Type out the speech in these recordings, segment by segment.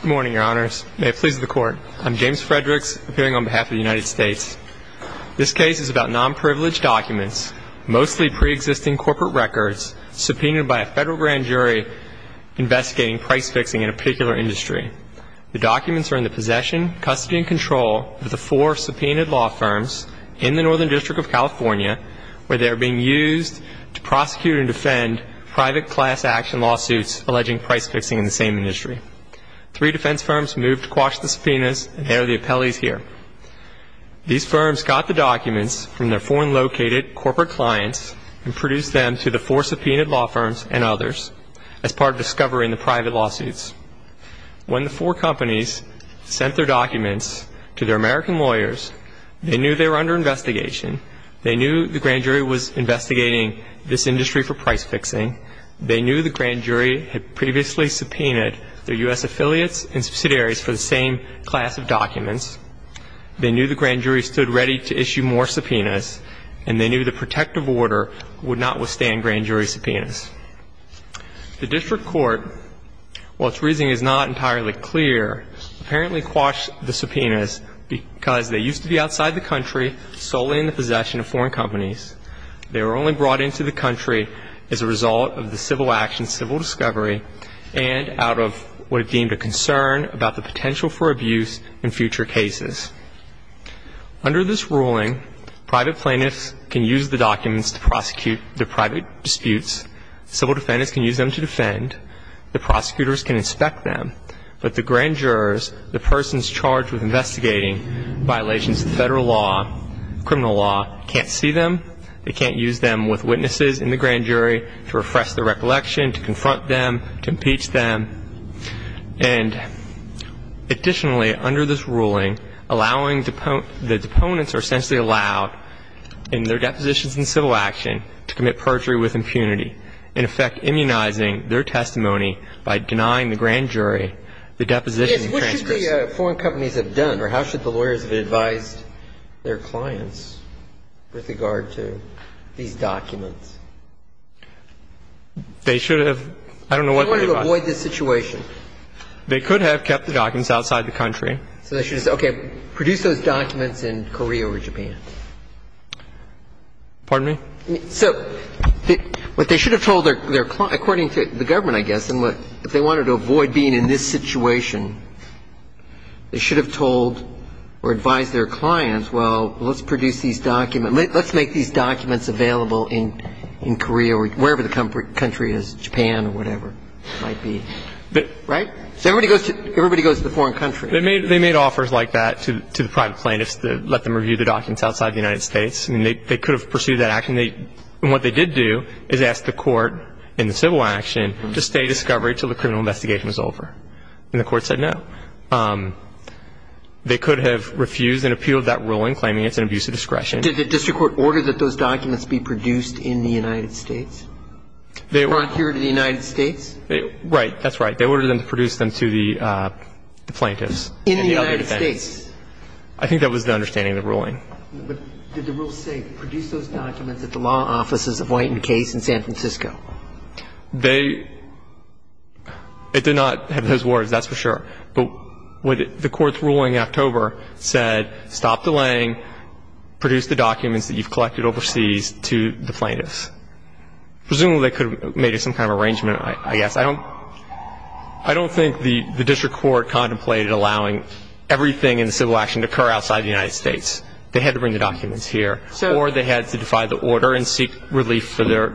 Good morning, Your Honors. May it please the Court. I'm James Fredericks, appearing on behalf of the United States. This case is about non-privileged documents, mostly pre-existing corporate records, subpoenaed by a federal grand jury investigating price fixing in a particular industry. The documents are in the possession, custody, and control of the four subpoenaed law firms in the Northern District of California, where they are being used to prosecute and defend private class action lawsuits alleging price fixing in the same industry. Three defense firms moved to quash the subpoenas, and they are the appellees here. These firms got the documents from their foreign-located corporate clients and produced them to the four subpoenaed law firms and others as part of discovering the private lawsuits. When the four companies sent their documents to their American lawyers, they knew they were under investigation. They knew the grand jury was investigating this industry for price fixing. They knew the grand jury had previously subpoenaed their U.S. affiliates and subsidiaries for the same class of documents. They knew the grand jury stood ready to issue more subpoenas, and they knew the protective order would not withstand grand jury subpoenas. The district court, while its reasoning is not entirely clear, apparently quashed the subpoenas because they used to be outside the country, solely in the possession of foreign companies. They were only brought into the country as a result of the civil action, civil discovery, and out of what it deemed a concern about the potential for abuse in future cases. Under this ruling, private plaintiffs can use the documents to prosecute their private disputes. Civil defendants can use them to defend. The prosecutors can inspect them. But the grand jurors, the persons charged with investigating violations of federal law, criminal law, can't see them. They can't use them with witnesses in the grand jury to refresh their recollection, to confront them, to impeach them. And additionally, under this ruling, allowing the deponents are essentially allowed in their depositions in civil action to commit perjury with impunity, And the grand jurors can use them to investigate and, in effect, immunizing their testimony by denying the grand jury the deposition and transgression. Yes. What should the foreign companies have done, or how should the lawyers have advised their clients with regard to these documents? They should have. I don't know what they advised. They wanted to avoid this situation. They could have kept the documents outside the country. So they should have said, okay, produce those documents in Korea or Japan. Pardon me? So what they should have told their clients, according to the government, I guess, and what they wanted to avoid being in this situation, they should have told or advised their clients, well, let's produce these documents. Let's make these documents available in Korea or wherever the country is, Japan or whatever it might be. Right? So everybody goes to the foreign country. They made offers like that to the private plaintiffs to let them review the documents outside the United States. And they could have pursued that action. And what they did do is ask the court in the civil action to stay discovery until the criminal investigation was over. And the court said no. They could have refused and appealed that ruling, claiming it's an abuse of discretion. Did the district court order that those documents be produced in the United States? Or adhered to the United States? Right. That's right. They ordered them to produce them to the plaintiffs. In the United States. I think that was the understanding of the ruling. But did the rule say produce those documents at the law offices of White and Case in San Francisco? They did not have those words, that's for sure. But the court's ruling in October said stop delaying, produce the documents that you've collected overseas to the plaintiffs. Presumably they could have made some kind of arrangement, I guess. I don't think the district court contemplated allowing everything in the civil action to occur outside the United States. They had to bring the documents here. Or they had to defy the order and seek relief for their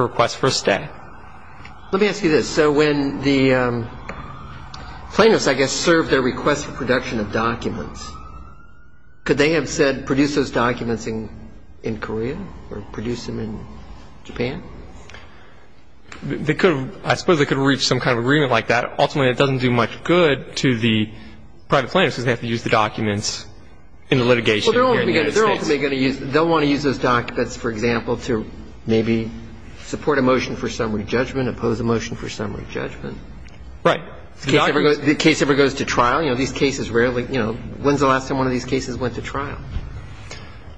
request for a stay. Let me ask you this. So when the plaintiffs, I guess, served their request for production of documents, could they have said produce those documents in Korea or produce them in Japan? I suppose they could have reached some kind of agreement like that. Ultimately, that doesn't do much good to the private plaintiffs because they have to use the documents in the litigation here in the United States. They're ultimately going to use, they'll want to use those documents, for example, to maybe support a motion for summary judgment, oppose a motion for summary judgment. Right. The case ever goes to trial. You know, these cases rarely, you know, when's the last time one of these cases went to trial?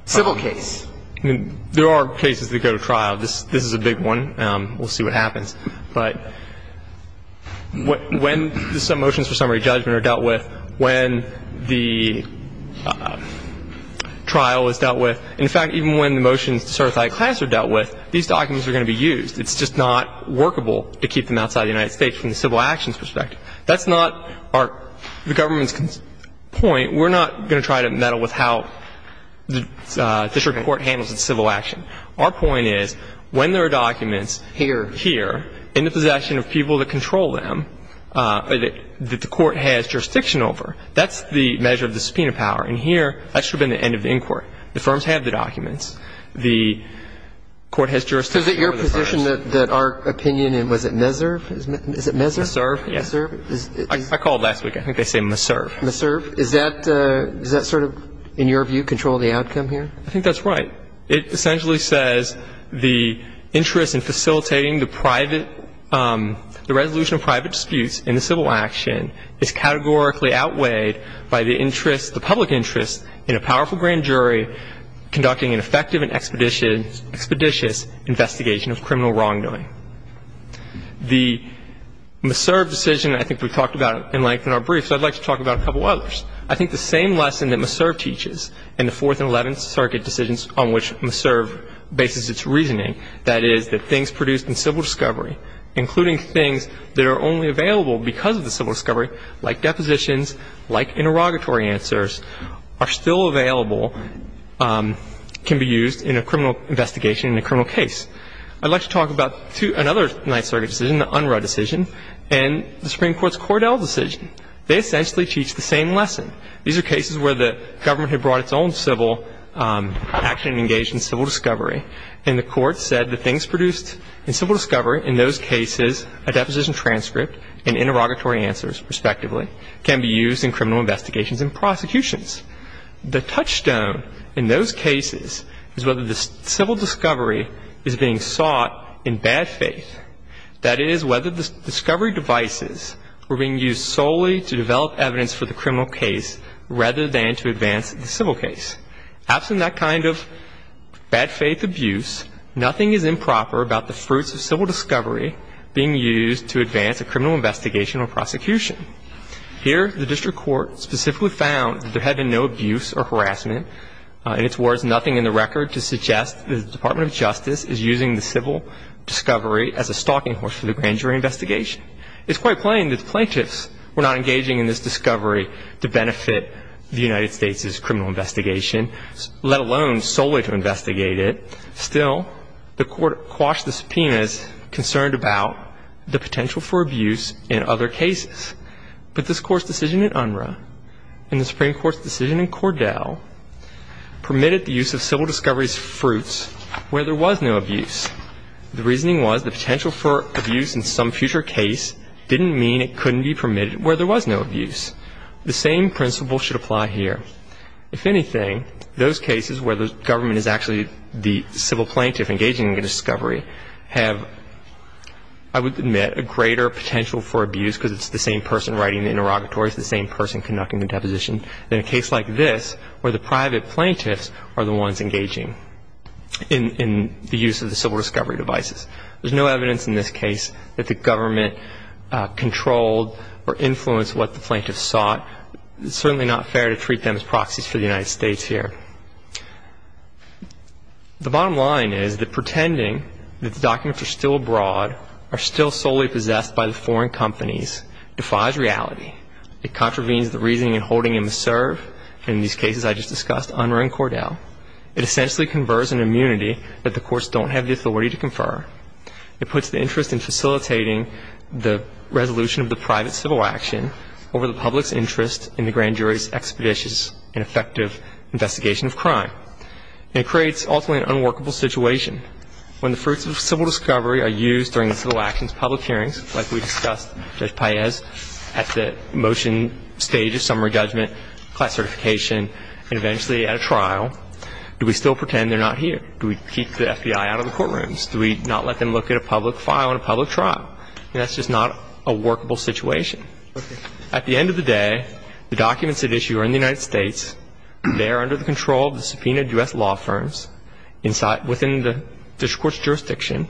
Civil case. There are cases that go to trial. This is a big one. We'll see what happens. But when the motions for summary judgment are dealt with, when the trial is dealt with, in fact, even when the motions to certify a class are dealt with, these documents are going to be used. It's just not workable to keep them outside the United States from the civil actions perspective. That's not our, the government's point. We're not going to try to meddle with how the district court handles its civil action. Our point is when there are documents here in the possession of people that control them, that the court has jurisdiction over, that's the measure of the subpoena power. And here, that should have been the end of the inquiry. The firms have the documents. The court has jurisdiction over the firms. So is it your position that our opinion in, was it MESRV? Is it MESRV? MESRV, yes. MESRV? I called last week. I think they say MESRV. MESRV. Is that sort of, in your view, control the outcome here? I think that's right. It essentially says the interest in facilitating the private, the resolution of private disputes in the civil action is categorically outweighed by the interest, the public interest, in a powerful grand jury conducting an effective and expeditious investigation of criminal wrongdoing. The MESRV decision, I think we've talked about it in length in our brief, so I'd like to talk about a couple others. I think the same lesson that MESRV teaches in the Fourth and Eleventh Circuit decisions on which MESRV bases its reasoning, that is that things produced in civil discovery, including things that are only available because of the civil discovery, like depositions, like interrogatory answers, are still available, can be used in a criminal investigation in a criminal case. I'd like to talk about another Ninth Circuit decision, the Unruh decision, and the Supreme Court's Cordell decision. They essentially teach the same lesson. These are cases where the government had brought its own civil action and engaged in civil discovery, and the Court said that things produced in civil discovery, in those cases, a deposition transcript and interrogatory answers, respectively, can be used in criminal investigations and prosecutions. The touchstone in those cases is whether the civil discovery is being sought in bad faith, that is, whether the discovery devices were being used solely to develop evidence for the criminal case rather than to advance the civil case. Absent that kind of bad faith abuse, nothing is improper about the fruits of civil discovery being used to advance a criminal investigation or prosecution. Here, the district court specifically found that there had been no abuse or harassment, nothing in the record to suggest that the Department of Justice is using the civil discovery as a stalking horse for the grand jury investigation. It's quite plain that the plaintiffs were not engaging in this discovery to benefit the United States' criminal investigation, let alone solely to investigate it. Still, the Court quashed the subpoenas concerned about the potential for abuse in other cases. But this Court's decision in UNRRA and the Supreme Court's decision in Cordell permitted the use of civil discovery's fruits where there was no abuse. The reasoning was the potential for abuse in some future case didn't mean it couldn't be permitted where there was no abuse. The same principle should apply here. If anything, those cases where the government is actually the civil plaintiff engaging in the discovery have, I would admit, a greater potential for abuse because it's the same person writing the interrogatory, it's the same person conducting the deposition, than a case like this where the private plaintiffs are the ones engaging in the use of the civil discovery devices. There's no evidence in this case that the government controlled or influenced what the plaintiffs sought. It's certainly not fair to treat them as proxies for the United States here. The bottom line is that pretending that the documents are still abroad, are still solely possessed by the foreign companies, defies reality. It contravenes the reasoning in holding a misserve, in these cases I just discussed, UNRRA and Cordell. It essentially converts an immunity that the courts don't have the authority to confer. It puts the interest in facilitating the resolution of the private civil action over the public's interest in the grand jury's expeditious and effective investigation of crime. And it creates, ultimately, an unworkable situation. When the fruits of civil discovery are used during the civil actions public hearings, like we discussed, Judge Paez, at the motion stage of summary judgment, class certification, and eventually at a trial, do we still pretend they're not here? Do we keep the FBI out of the courtrooms? Do we not let them look at a public file in a public trial? That's just not a workable situation. At the end of the day, the documents at issue are in the United States. They are under the control of the subpoenaed U.S. law firms inside the district court's jurisdiction.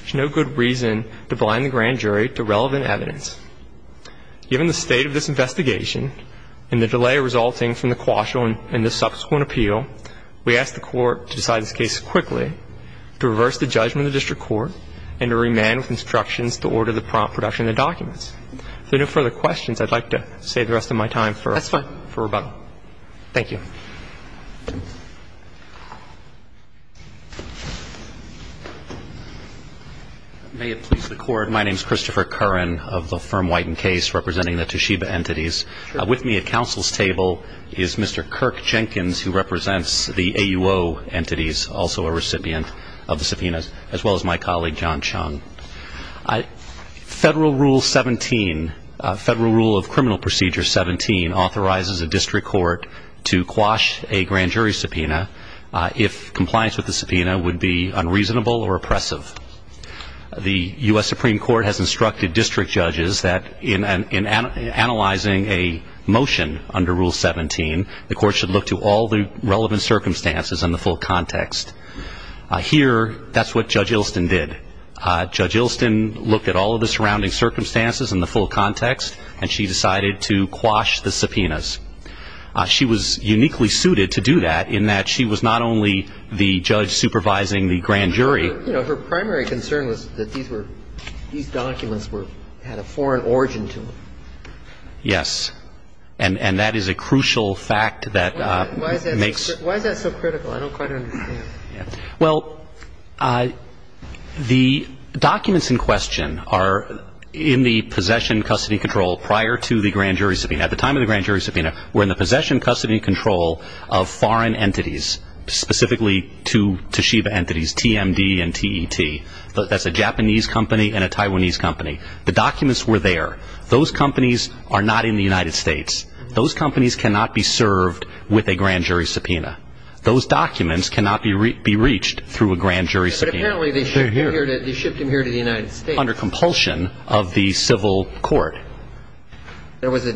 There's no good reason to blind the grand jury to relevant evidence. Given the state of this investigation and the delay resulting from the quashel in this subsequent appeal, we ask the court to decide this case quickly, to reverse the judgment of the district court, and to remain with instructions to order the prompt production of the documents. If there are no further questions, I'd like to save the rest of my time for rebuttal. That's fine. Thank you. May it please the Court, my name is Christopher Curran of the firm White and Case, representing the Toshiba entities. With me at counsel's table is Mr. Kirk Jenkins, who represents the AUO entities, also a recipient of the subpoenas, as well as my colleague, John Chung. Federal Rule 17, Federal Rule of Criminal Procedure 17, authorizes a district court to quash a grand jury subpoena if compliance with the subpoena would be unreasonable or oppressive. The U.S. Supreme Court has instructed district judges that in analyzing a motion under Rule 17, the court should look to all the relevant circumstances in the full context. Here, that's what Judge Ilston did. Judge Ilston looked at all of the surrounding circumstances in the full context, and she decided to quash the subpoenas. She was uniquely suited to do that in that she was not only the judge supervising the grand jury. You know, her primary concern was that these documents had a foreign origin to them. Yes, and that is a crucial fact that makes Why is that so critical? I don't quite understand. Well, the documents in question are in the possession custody control prior to the grand jury subpoena. At the time of the grand jury subpoena, we're in the possession custody control of foreign entities, specifically two Toshiba entities, TMD and TET. That's a Japanese company and a Taiwanese company. The documents were there. Those companies are not in the United States. Those companies cannot be served with a grand jury subpoena. Those documents cannot be reached through a grand jury subpoena. But apparently they shipped them here to the United States. Under compulsion of the civil court. There was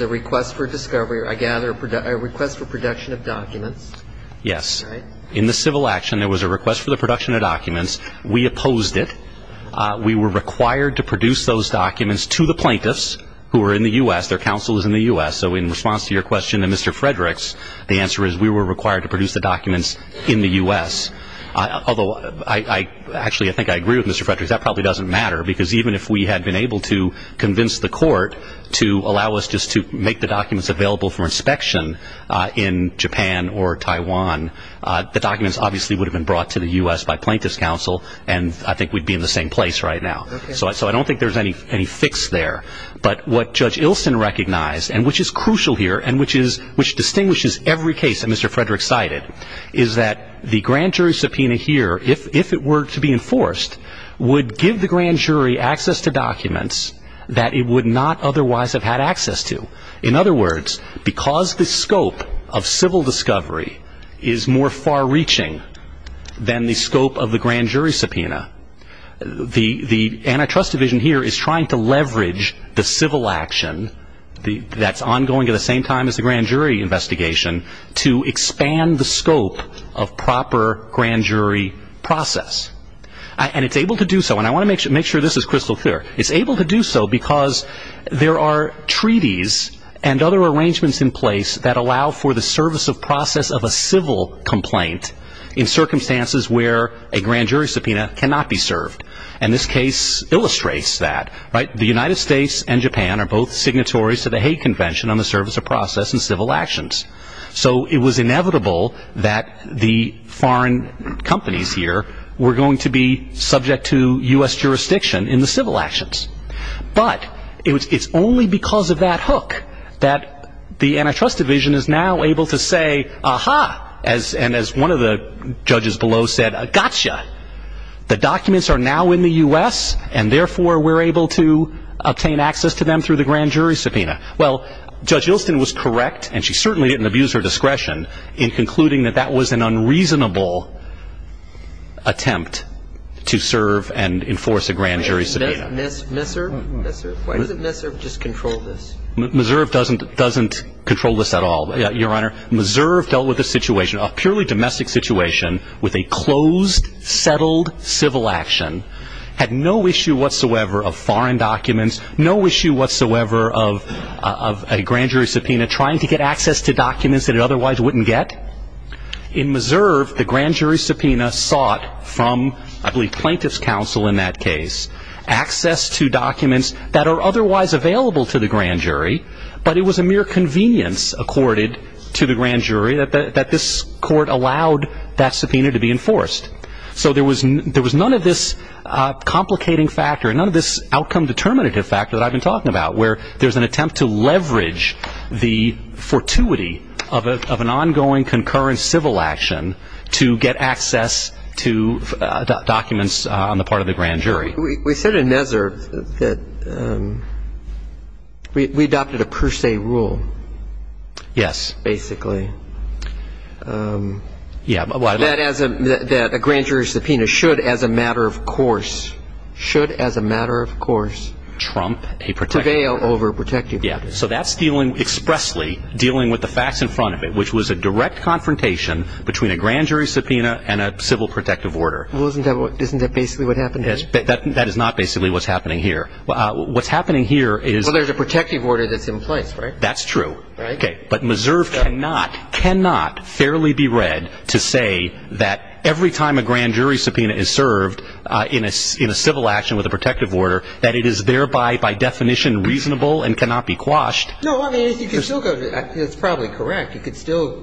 a request for discovery, I gather, a request for production of documents. Yes. In the civil action, there was a request for the production of documents. We opposed it. We were required to produce those documents to the plaintiffs who were in the U.S. Their counsel was in the U.S. So in response to your question and Mr. Frederick's, the answer is we were required to produce the documents in the U.S. Actually, I think I agree with Mr. Frederick's. That probably doesn't matter because even if we had been able to convince the court to allow us just to make the documents available for inspection in Japan or Taiwan, the documents obviously would have been brought to the U.S. by plaintiffs' counsel, and I think we'd be in the same place right now. So I don't think there's any fix there. But what Judge Ilsen recognized, and which is crucial here and which distinguishes every case that Mr. Frederick cited, is that the grand jury subpoena here, if it were to be enforced, would give the grand jury access to documents that it would not otherwise have had access to. In other words, because the scope of civil discovery is more far-reaching than the scope of the grand jury subpoena, the antitrust division here is trying to leverage the civil action that's ongoing at the same time as the grand jury investigation to expand the scope of proper grand jury process. And it's able to do so, and I want to make sure this is crystal clear. It's able to do so because there are treaties and other arrangements in place that allow for the service of process of a civil complaint in circumstances where a grand jury subpoena cannot be served. And this case illustrates that. The United States and Japan are both signatories to the Hague Convention on the Service of Process and Civil Actions. So it was inevitable that the foreign companies here were going to be subject to U.S. jurisdiction in the civil actions. But it's only because of that hook that the antitrust division is now able to say, aha, and as one of the judges below said, gotcha. The documents are now in the U.S., and therefore we're able to obtain access to them through the grand jury subpoena. Well, Judge Ilston was correct, and she certainly didn't abuse her discretion, in concluding that that was an unreasonable attempt to serve and enforce a grand jury subpoena. Why doesn't MISRV just control this? MISRV doesn't control this at all, Your Honor. MISRV dealt with a situation, a purely domestic situation, with a closed, settled civil action. Had no issue whatsoever of foreign documents, no issue whatsoever of a grand jury subpoena trying to get access to documents that it otherwise wouldn't get. In MISRV, the grand jury subpoena sought from, I believe, plaintiff's counsel in that case, access to documents that are otherwise available to the grand jury, but it was a mere convenience accorded to the grand jury that this court allowed that subpoena to be enforced. So there was none of this complicating factor, none of this outcome-determinative factor that I've been talking about, where there's an attempt to leverage the fortuity of an ongoing, concurrent civil action to get access to documents on the part of the grand jury. We said in MISRV that we adopted a per se rule. Yes. Basically. Yeah. That a grand jury subpoena should, as a matter of course, should, as a matter of course, prevail over protective orders. Yeah. So that's dealing expressly, dealing with the facts in front of it, which was a direct confrontation between a grand jury subpoena and a civil protective order. Well, isn't that basically what happened here? That is not basically what's happening here. What's happening here is – Well, there's a protective order that's in place, right? That's true. Right. Okay. But MISRV cannot, cannot fairly be read to say that every time a grand jury subpoena is served in a civil action with a protective order that it is thereby, by definition, reasonable and cannot be quashed. No, I mean, you could still go to – that's probably correct. You could still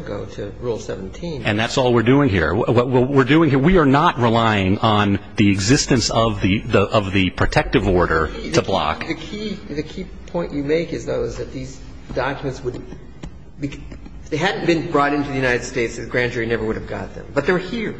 go to Rule 17. And that's all we're doing here. What we're doing here, we are not relying on the existence of the protective order to block. The key point you make is, though, is that these documents would – if they hadn't been brought into the United States, the grand jury never would have got them. But they're here.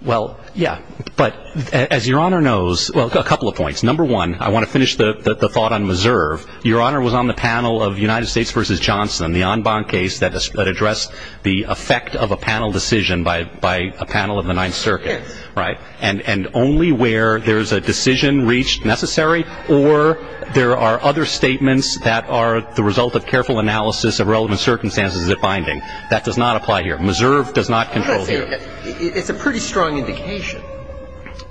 Well, yeah. But as Your Honor knows – well, a couple of points. Number one, I want to finish the thought on MISRV. Your Honor was on the panel of United States v. Johnson, the en banc case that addressed the effect of a panel decision by a panel of the Ninth Circuit. Yes. Right. And only where there's a decision reached necessary or there are other statements that are the result of careful analysis of relevant circumstances at binding. That does not apply here. MISRV does not control here. It's a pretty strong indication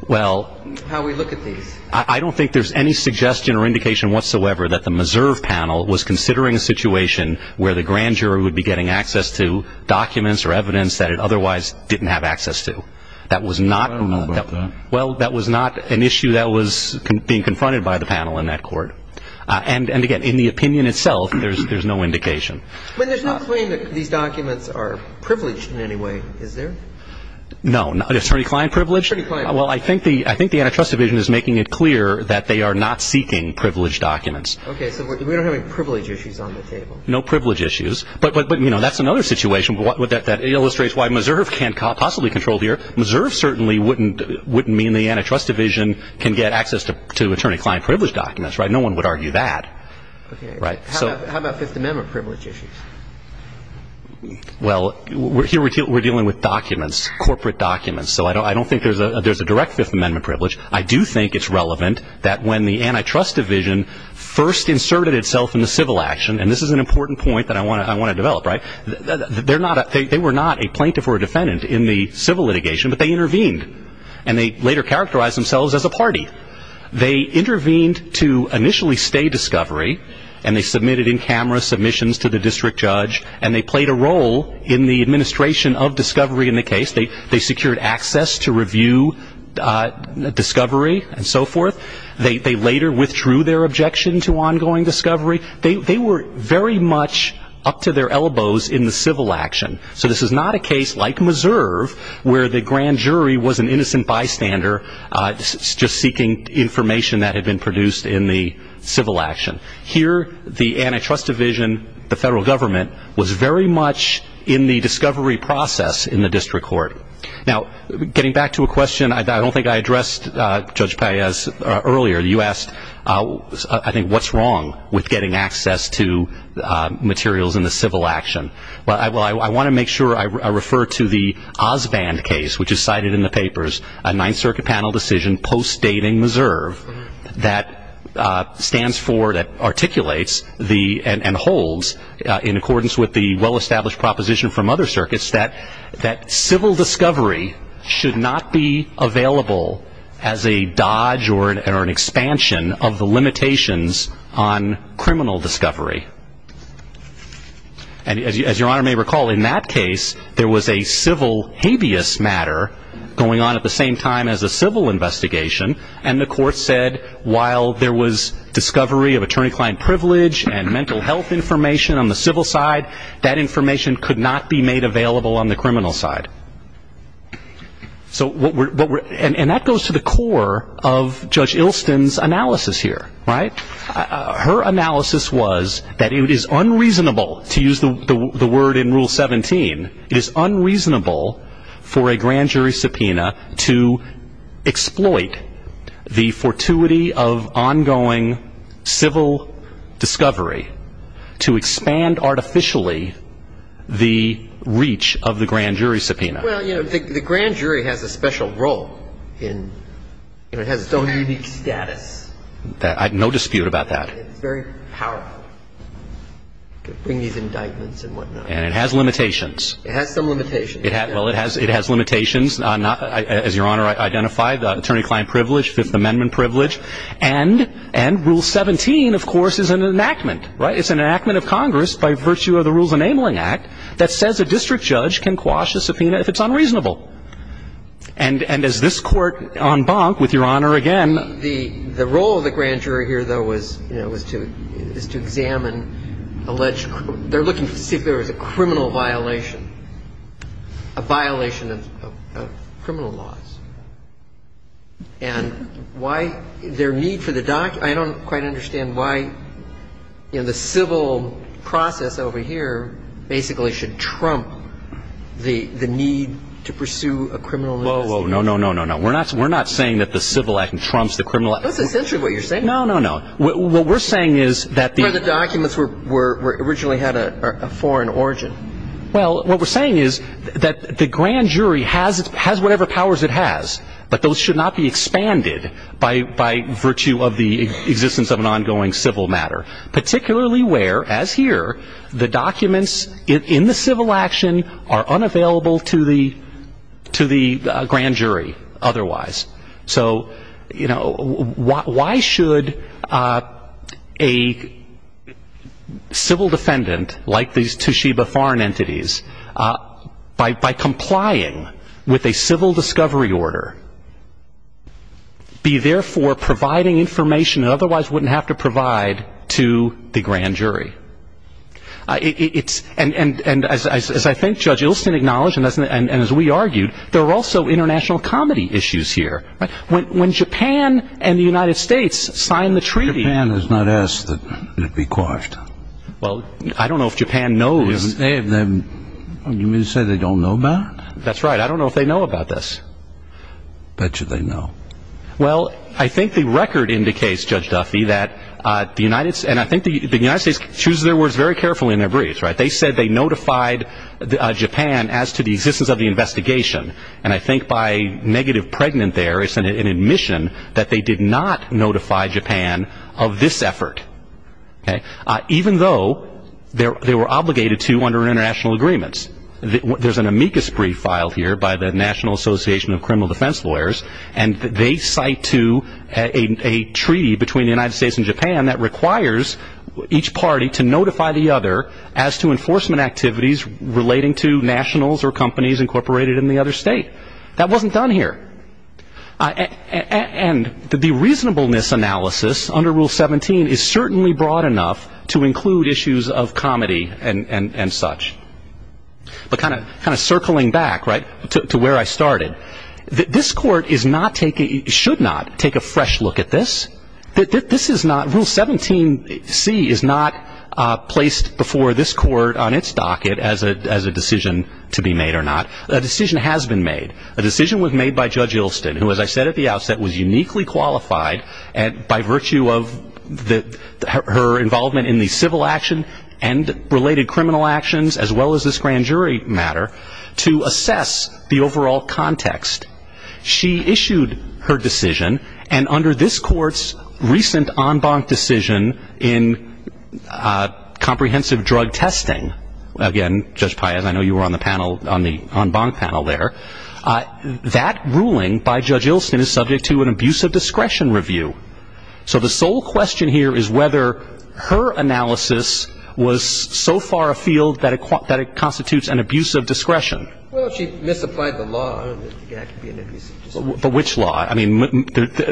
how we look at these. Well, I don't think there's any suggestion or indication whatsoever that the MISRV panel was considering a situation where the grand jury would be getting access to documents or evidence that it otherwise didn't have access to. That was not – I don't know about that. Well, that was not an issue that was being confronted by the panel in that court. And, again, in the opinion itself, there's no indication. But there's no claim that these documents are privileged in any way, is there? No. It's pretty client privilege? It's pretty client privilege. Well, I think the antitrust division is making it clear that they are not seeking privileged documents. Okay. So we don't have any privilege issues on the table? No privilege issues. But, you know, that's another situation that illustrates why MISRV can't possibly control here. MISRV certainly wouldn't mean the antitrust division can get access to attorney-client privilege documents, right? No one would argue that. Okay. Right. How about Fifth Amendment privilege issues? Well, here we're dealing with documents, corporate documents. So I don't think there's a direct Fifth Amendment privilege. I do think it's relevant that when the antitrust division first inserted itself in the civil action, and this is an important point that I want to develop, right, they were not a plaintiff or a defendant in the civil litigation, but they intervened. And they later characterized themselves as a party. They intervened to initially stay discovery, and they submitted in camera submissions to the district judge, and they played a role in the administration of discovery in the case. They secured access to review discovery and so forth. They later withdrew their objection to ongoing discovery. They were very much up to their elbows in the civil action. So this is not a case like MISRV where the grand jury was an innocent bystander just seeking information that had been produced in the civil action. Here, the antitrust division, the federal government, was very much in the discovery process in the district court. Now, getting back to a question I don't think I addressed, Judge Paez, earlier. You asked, I think, what's wrong with getting access to materials in the civil action. Well, I want to make sure I refer to the Osband case, which is cited in the papers, a Ninth Circuit panel decision postdating MISRV that stands for, that articulates and holds, in accordance with the well-established proposition from other circuits, that civil discovery should not be available as a dodge or an expansion of the limitations on criminal discovery. And as Your Honor may recall, in that case, there was a civil habeas matter going on at the same time as a civil investigation, and the court said while there was discovery of attorney-client privilege and mental health information on the civil side, that information could not be made available on the criminal side. And that goes to the core of Judge Ilston's analysis here, right? Her analysis was that it is unreasonable, to use the word in Rule 17, it is unreasonable for a grand jury subpoena to exploit the fortuity of ongoing civil discovery to expand artificially the reach of the grand jury subpoena. Well, you know, the grand jury has a special role in, you know, it has its own unique status. I have no dispute about that. It's very powerful to bring these indictments and whatnot. And it has limitations. It has some limitations. Well, it has limitations, as Your Honor identified, attorney-client privilege, Fifth Amendment privilege. And Rule 17, of course, is an enactment, right? It's an enactment of Congress by virtue of the Rules Enabling Act that says a district judge can quash a subpoena if it's unreasonable. And as this Court on Bonk, with Your Honor again ---- The role of the grand jury here, though, was, you know, was to examine alleged ---- they're looking to see if there was a criminal violation, a violation of criminal laws. And why their need for the document ---- I don't quite understand why, you know, the civil process over here basically should trump the need to pursue a criminal investigation. Whoa, whoa, no, no, no, no. We're not saying that the civil act trumps the criminal act. That's essentially what you're saying. No, no, no. What we're saying is that the ---- Where the documents originally had a foreign origin. Well, what we're saying is that the grand jury has whatever powers it has, but those should not be expanded by virtue of the existence of an ongoing civil matter, particularly where, as here, the documents in the civil action are unavailable to the grand jury otherwise. So, you know, why should a civil defendant like these Toshiba foreign entities, by complying with a civil discovery order, be there for providing information that otherwise wouldn't have to provide to the grand jury? And as I think Judge Ilsen acknowledged and as we argued, there are also international comedy issues here. When Japan and the United States signed the treaty ---- Japan has not asked that it be quashed. Well, I don't know if Japan knows. You mean to say they don't know about it? That's right. I don't know if they know about this. Bet you they know. Well, I think the record indicates, Judge Duffy, that the United States ---- and I think the United States chooses their words very carefully in their briefs, right? They said they notified Japan as to the existence of the investigation, and I think by negative pregnant there, it's an admission that they did not notify Japan of this effort, okay? Even though they were obligated to under international agreements. There's an amicus brief filed here by the National Association of Criminal Defense Lawyers, and they cite to a treaty between the United States and Japan that requires each party to notify the other as to enforcement activities relating to nationals or companies incorporated in the other state. That wasn't done here. And the reasonableness analysis under Rule 17 is certainly broad enough to include issues of comedy and such. But kind of circling back, right, to where I started, this court should not take a fresh look at this. Rule 17C is not placed before this court on its docket as a decision to be made or not. A decision has been made. A decision was made by Judge Ilston, who, as I said at the outset, was uniquely qualified by virtue of her involvement in the civil action and related criminal actions as well as this grand jury matter to assess the overall context. She issued her decision, and under this court's recent en banc decision in comprehensive drug testing, again, Judge Paez, I know you were on the panel, on the en banc panel there, that ruling by Judge Ilston is subject to an abuse of discretion review. So the sole question here is whether her analysis was so far afield that it constitutes an abuse of discretion. Well, she misapplied the law. I don't think that could be an abuse of discretion. But which law? I mean,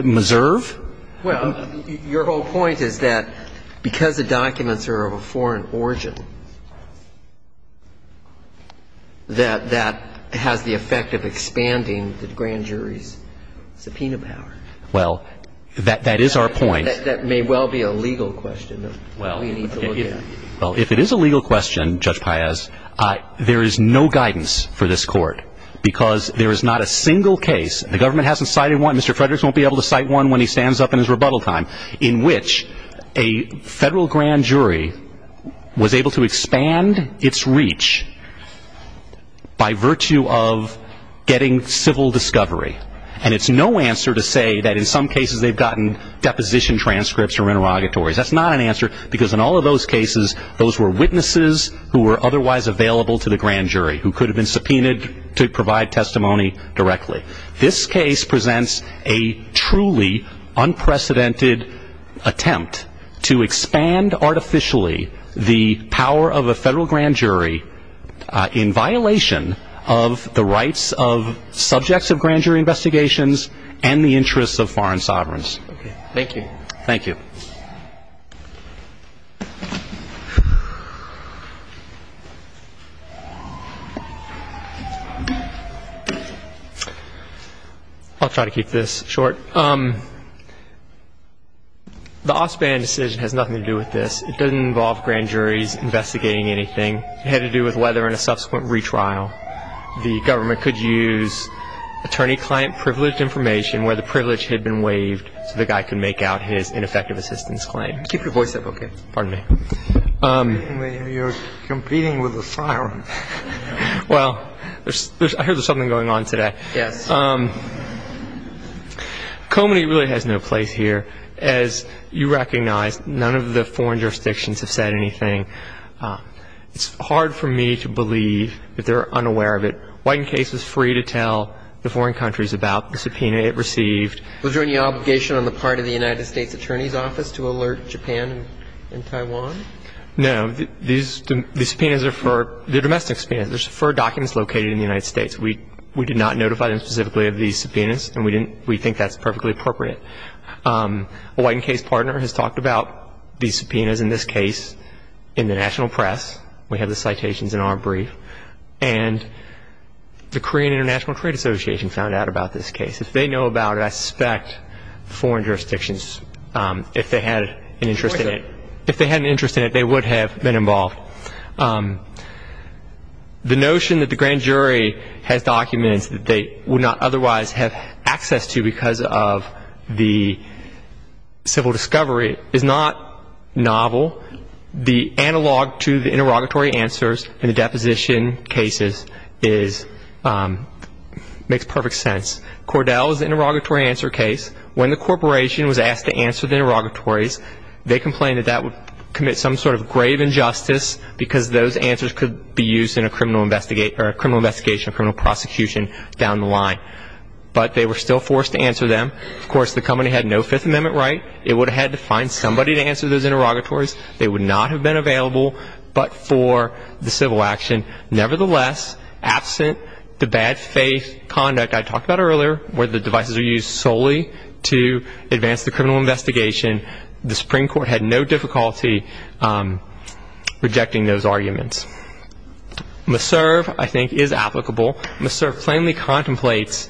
MESERVE? Well, your whole point is that because the documents are of a foreign origin, that that has the effect of expanding the grand jury's subpoena power. Well, that is our point. That may well be a legal question that we need to look at. Well, if it is a legal question, Judge Paez, there is no guidance for this court because there is not a single case, and the government hasn't cited one, and Mr. Fredericks won't be able to cite one when he stands up in his rebuttal time, in which a federal grand jury was able to expand its reach by virtue of getting civil discovery. And it's no answer to say that in some cases they've gotten deposition transcripts or interrogatories. That's not an answer because in all of those cases, those were witnesses who were otherwise available to the grand jury who could have been subpoenaed to provide testimony directly. This case presents a truly unprecedented attempt to expand artificially the power of a federal grand jury in violation of the rights of subjects of grand jury investigations and the interests of foreign sovereigns. Thank you. Thank you. I'll try to keep this short. The Ospan decision has nothing to do with this. It doesn't involve grand juries investigating anything. It had to do with whether in a subsequent retrial the government could use attorney-client privileged information where the privilege had been waived so the guy could make out his ineffective assistance claim. I'm sorry. Keep your voice up, okay? Pardon me. You're competing with a siren. Well, I heard there's something going on today. Yes. Comity really has no place here. As you recognize, none of the foreign jurisdictions have said anything. It's hard for me to believe that they're unaware of it. White and Case was free to tell the foreign countries about the subpoena it received. Was there any obligation on the part of the United States Attorney's Office to alert Japan and Taiwan? No. These subpoenas are for the domestic subpoenas. They're for documents located in the United States. We did not notify them specifically of these subpoenas, and we think that's perfectly appropriate. A White and Case partner has talked about these subpoenas in this case in the national press. We have the citations in our brief. And the Korean International Trade Association found out about this case. If they know about it, I suspect foreign jurisdictions, if they had an interest in it, they would have been involved. The notion that the grand jury has documents that they would not otherwise have access to because of the civil discovery is not novel. The analog to the interrogatory answers in the deposition cases makes perfect sense. Cordell's interrogatory answer case, when the corporation was asked to answer the interrogatories, they complained that that would commit some sort of grave injustice because those answers could be used in a criminal investigation or criminal prosecution down the line. But they were still forced to answer them. Of course, the company had no Fifth Amendment right. It would have had to find somebody to answer those interrogatories. They would not have been available but for the civil action. Nevertheless, absent the bad faith conduct I talked about earlier, where the devices are used solely to advance the criminal investigation, the Supreme Court had no difficulty rejecting those arguments. Misserve, I think, is applicable. Misserve plainly contemplates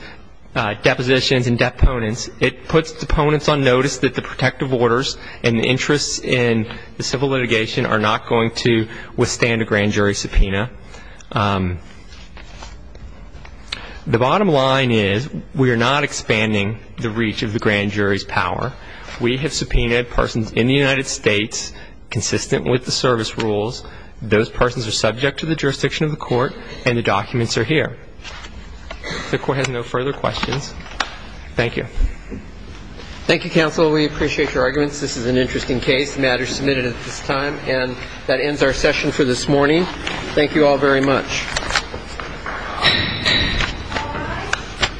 depositions and deponents. It puts deponents on notice that the protective orders and the interests in the civil litigation are not going to The bottom line is we are not expanding the reach of the grand jury's power. We have subpoenaed persons in the United States consistent with the service rules. Those persons are subject to the jurisdiction of the court and the documents are here. If the court has no further questions, thank you. Thank you, counsel. We appreciate your arguments. This is an interesting case. The matter is submitted at this time. And that ends our session for this morning. Thank you all very much.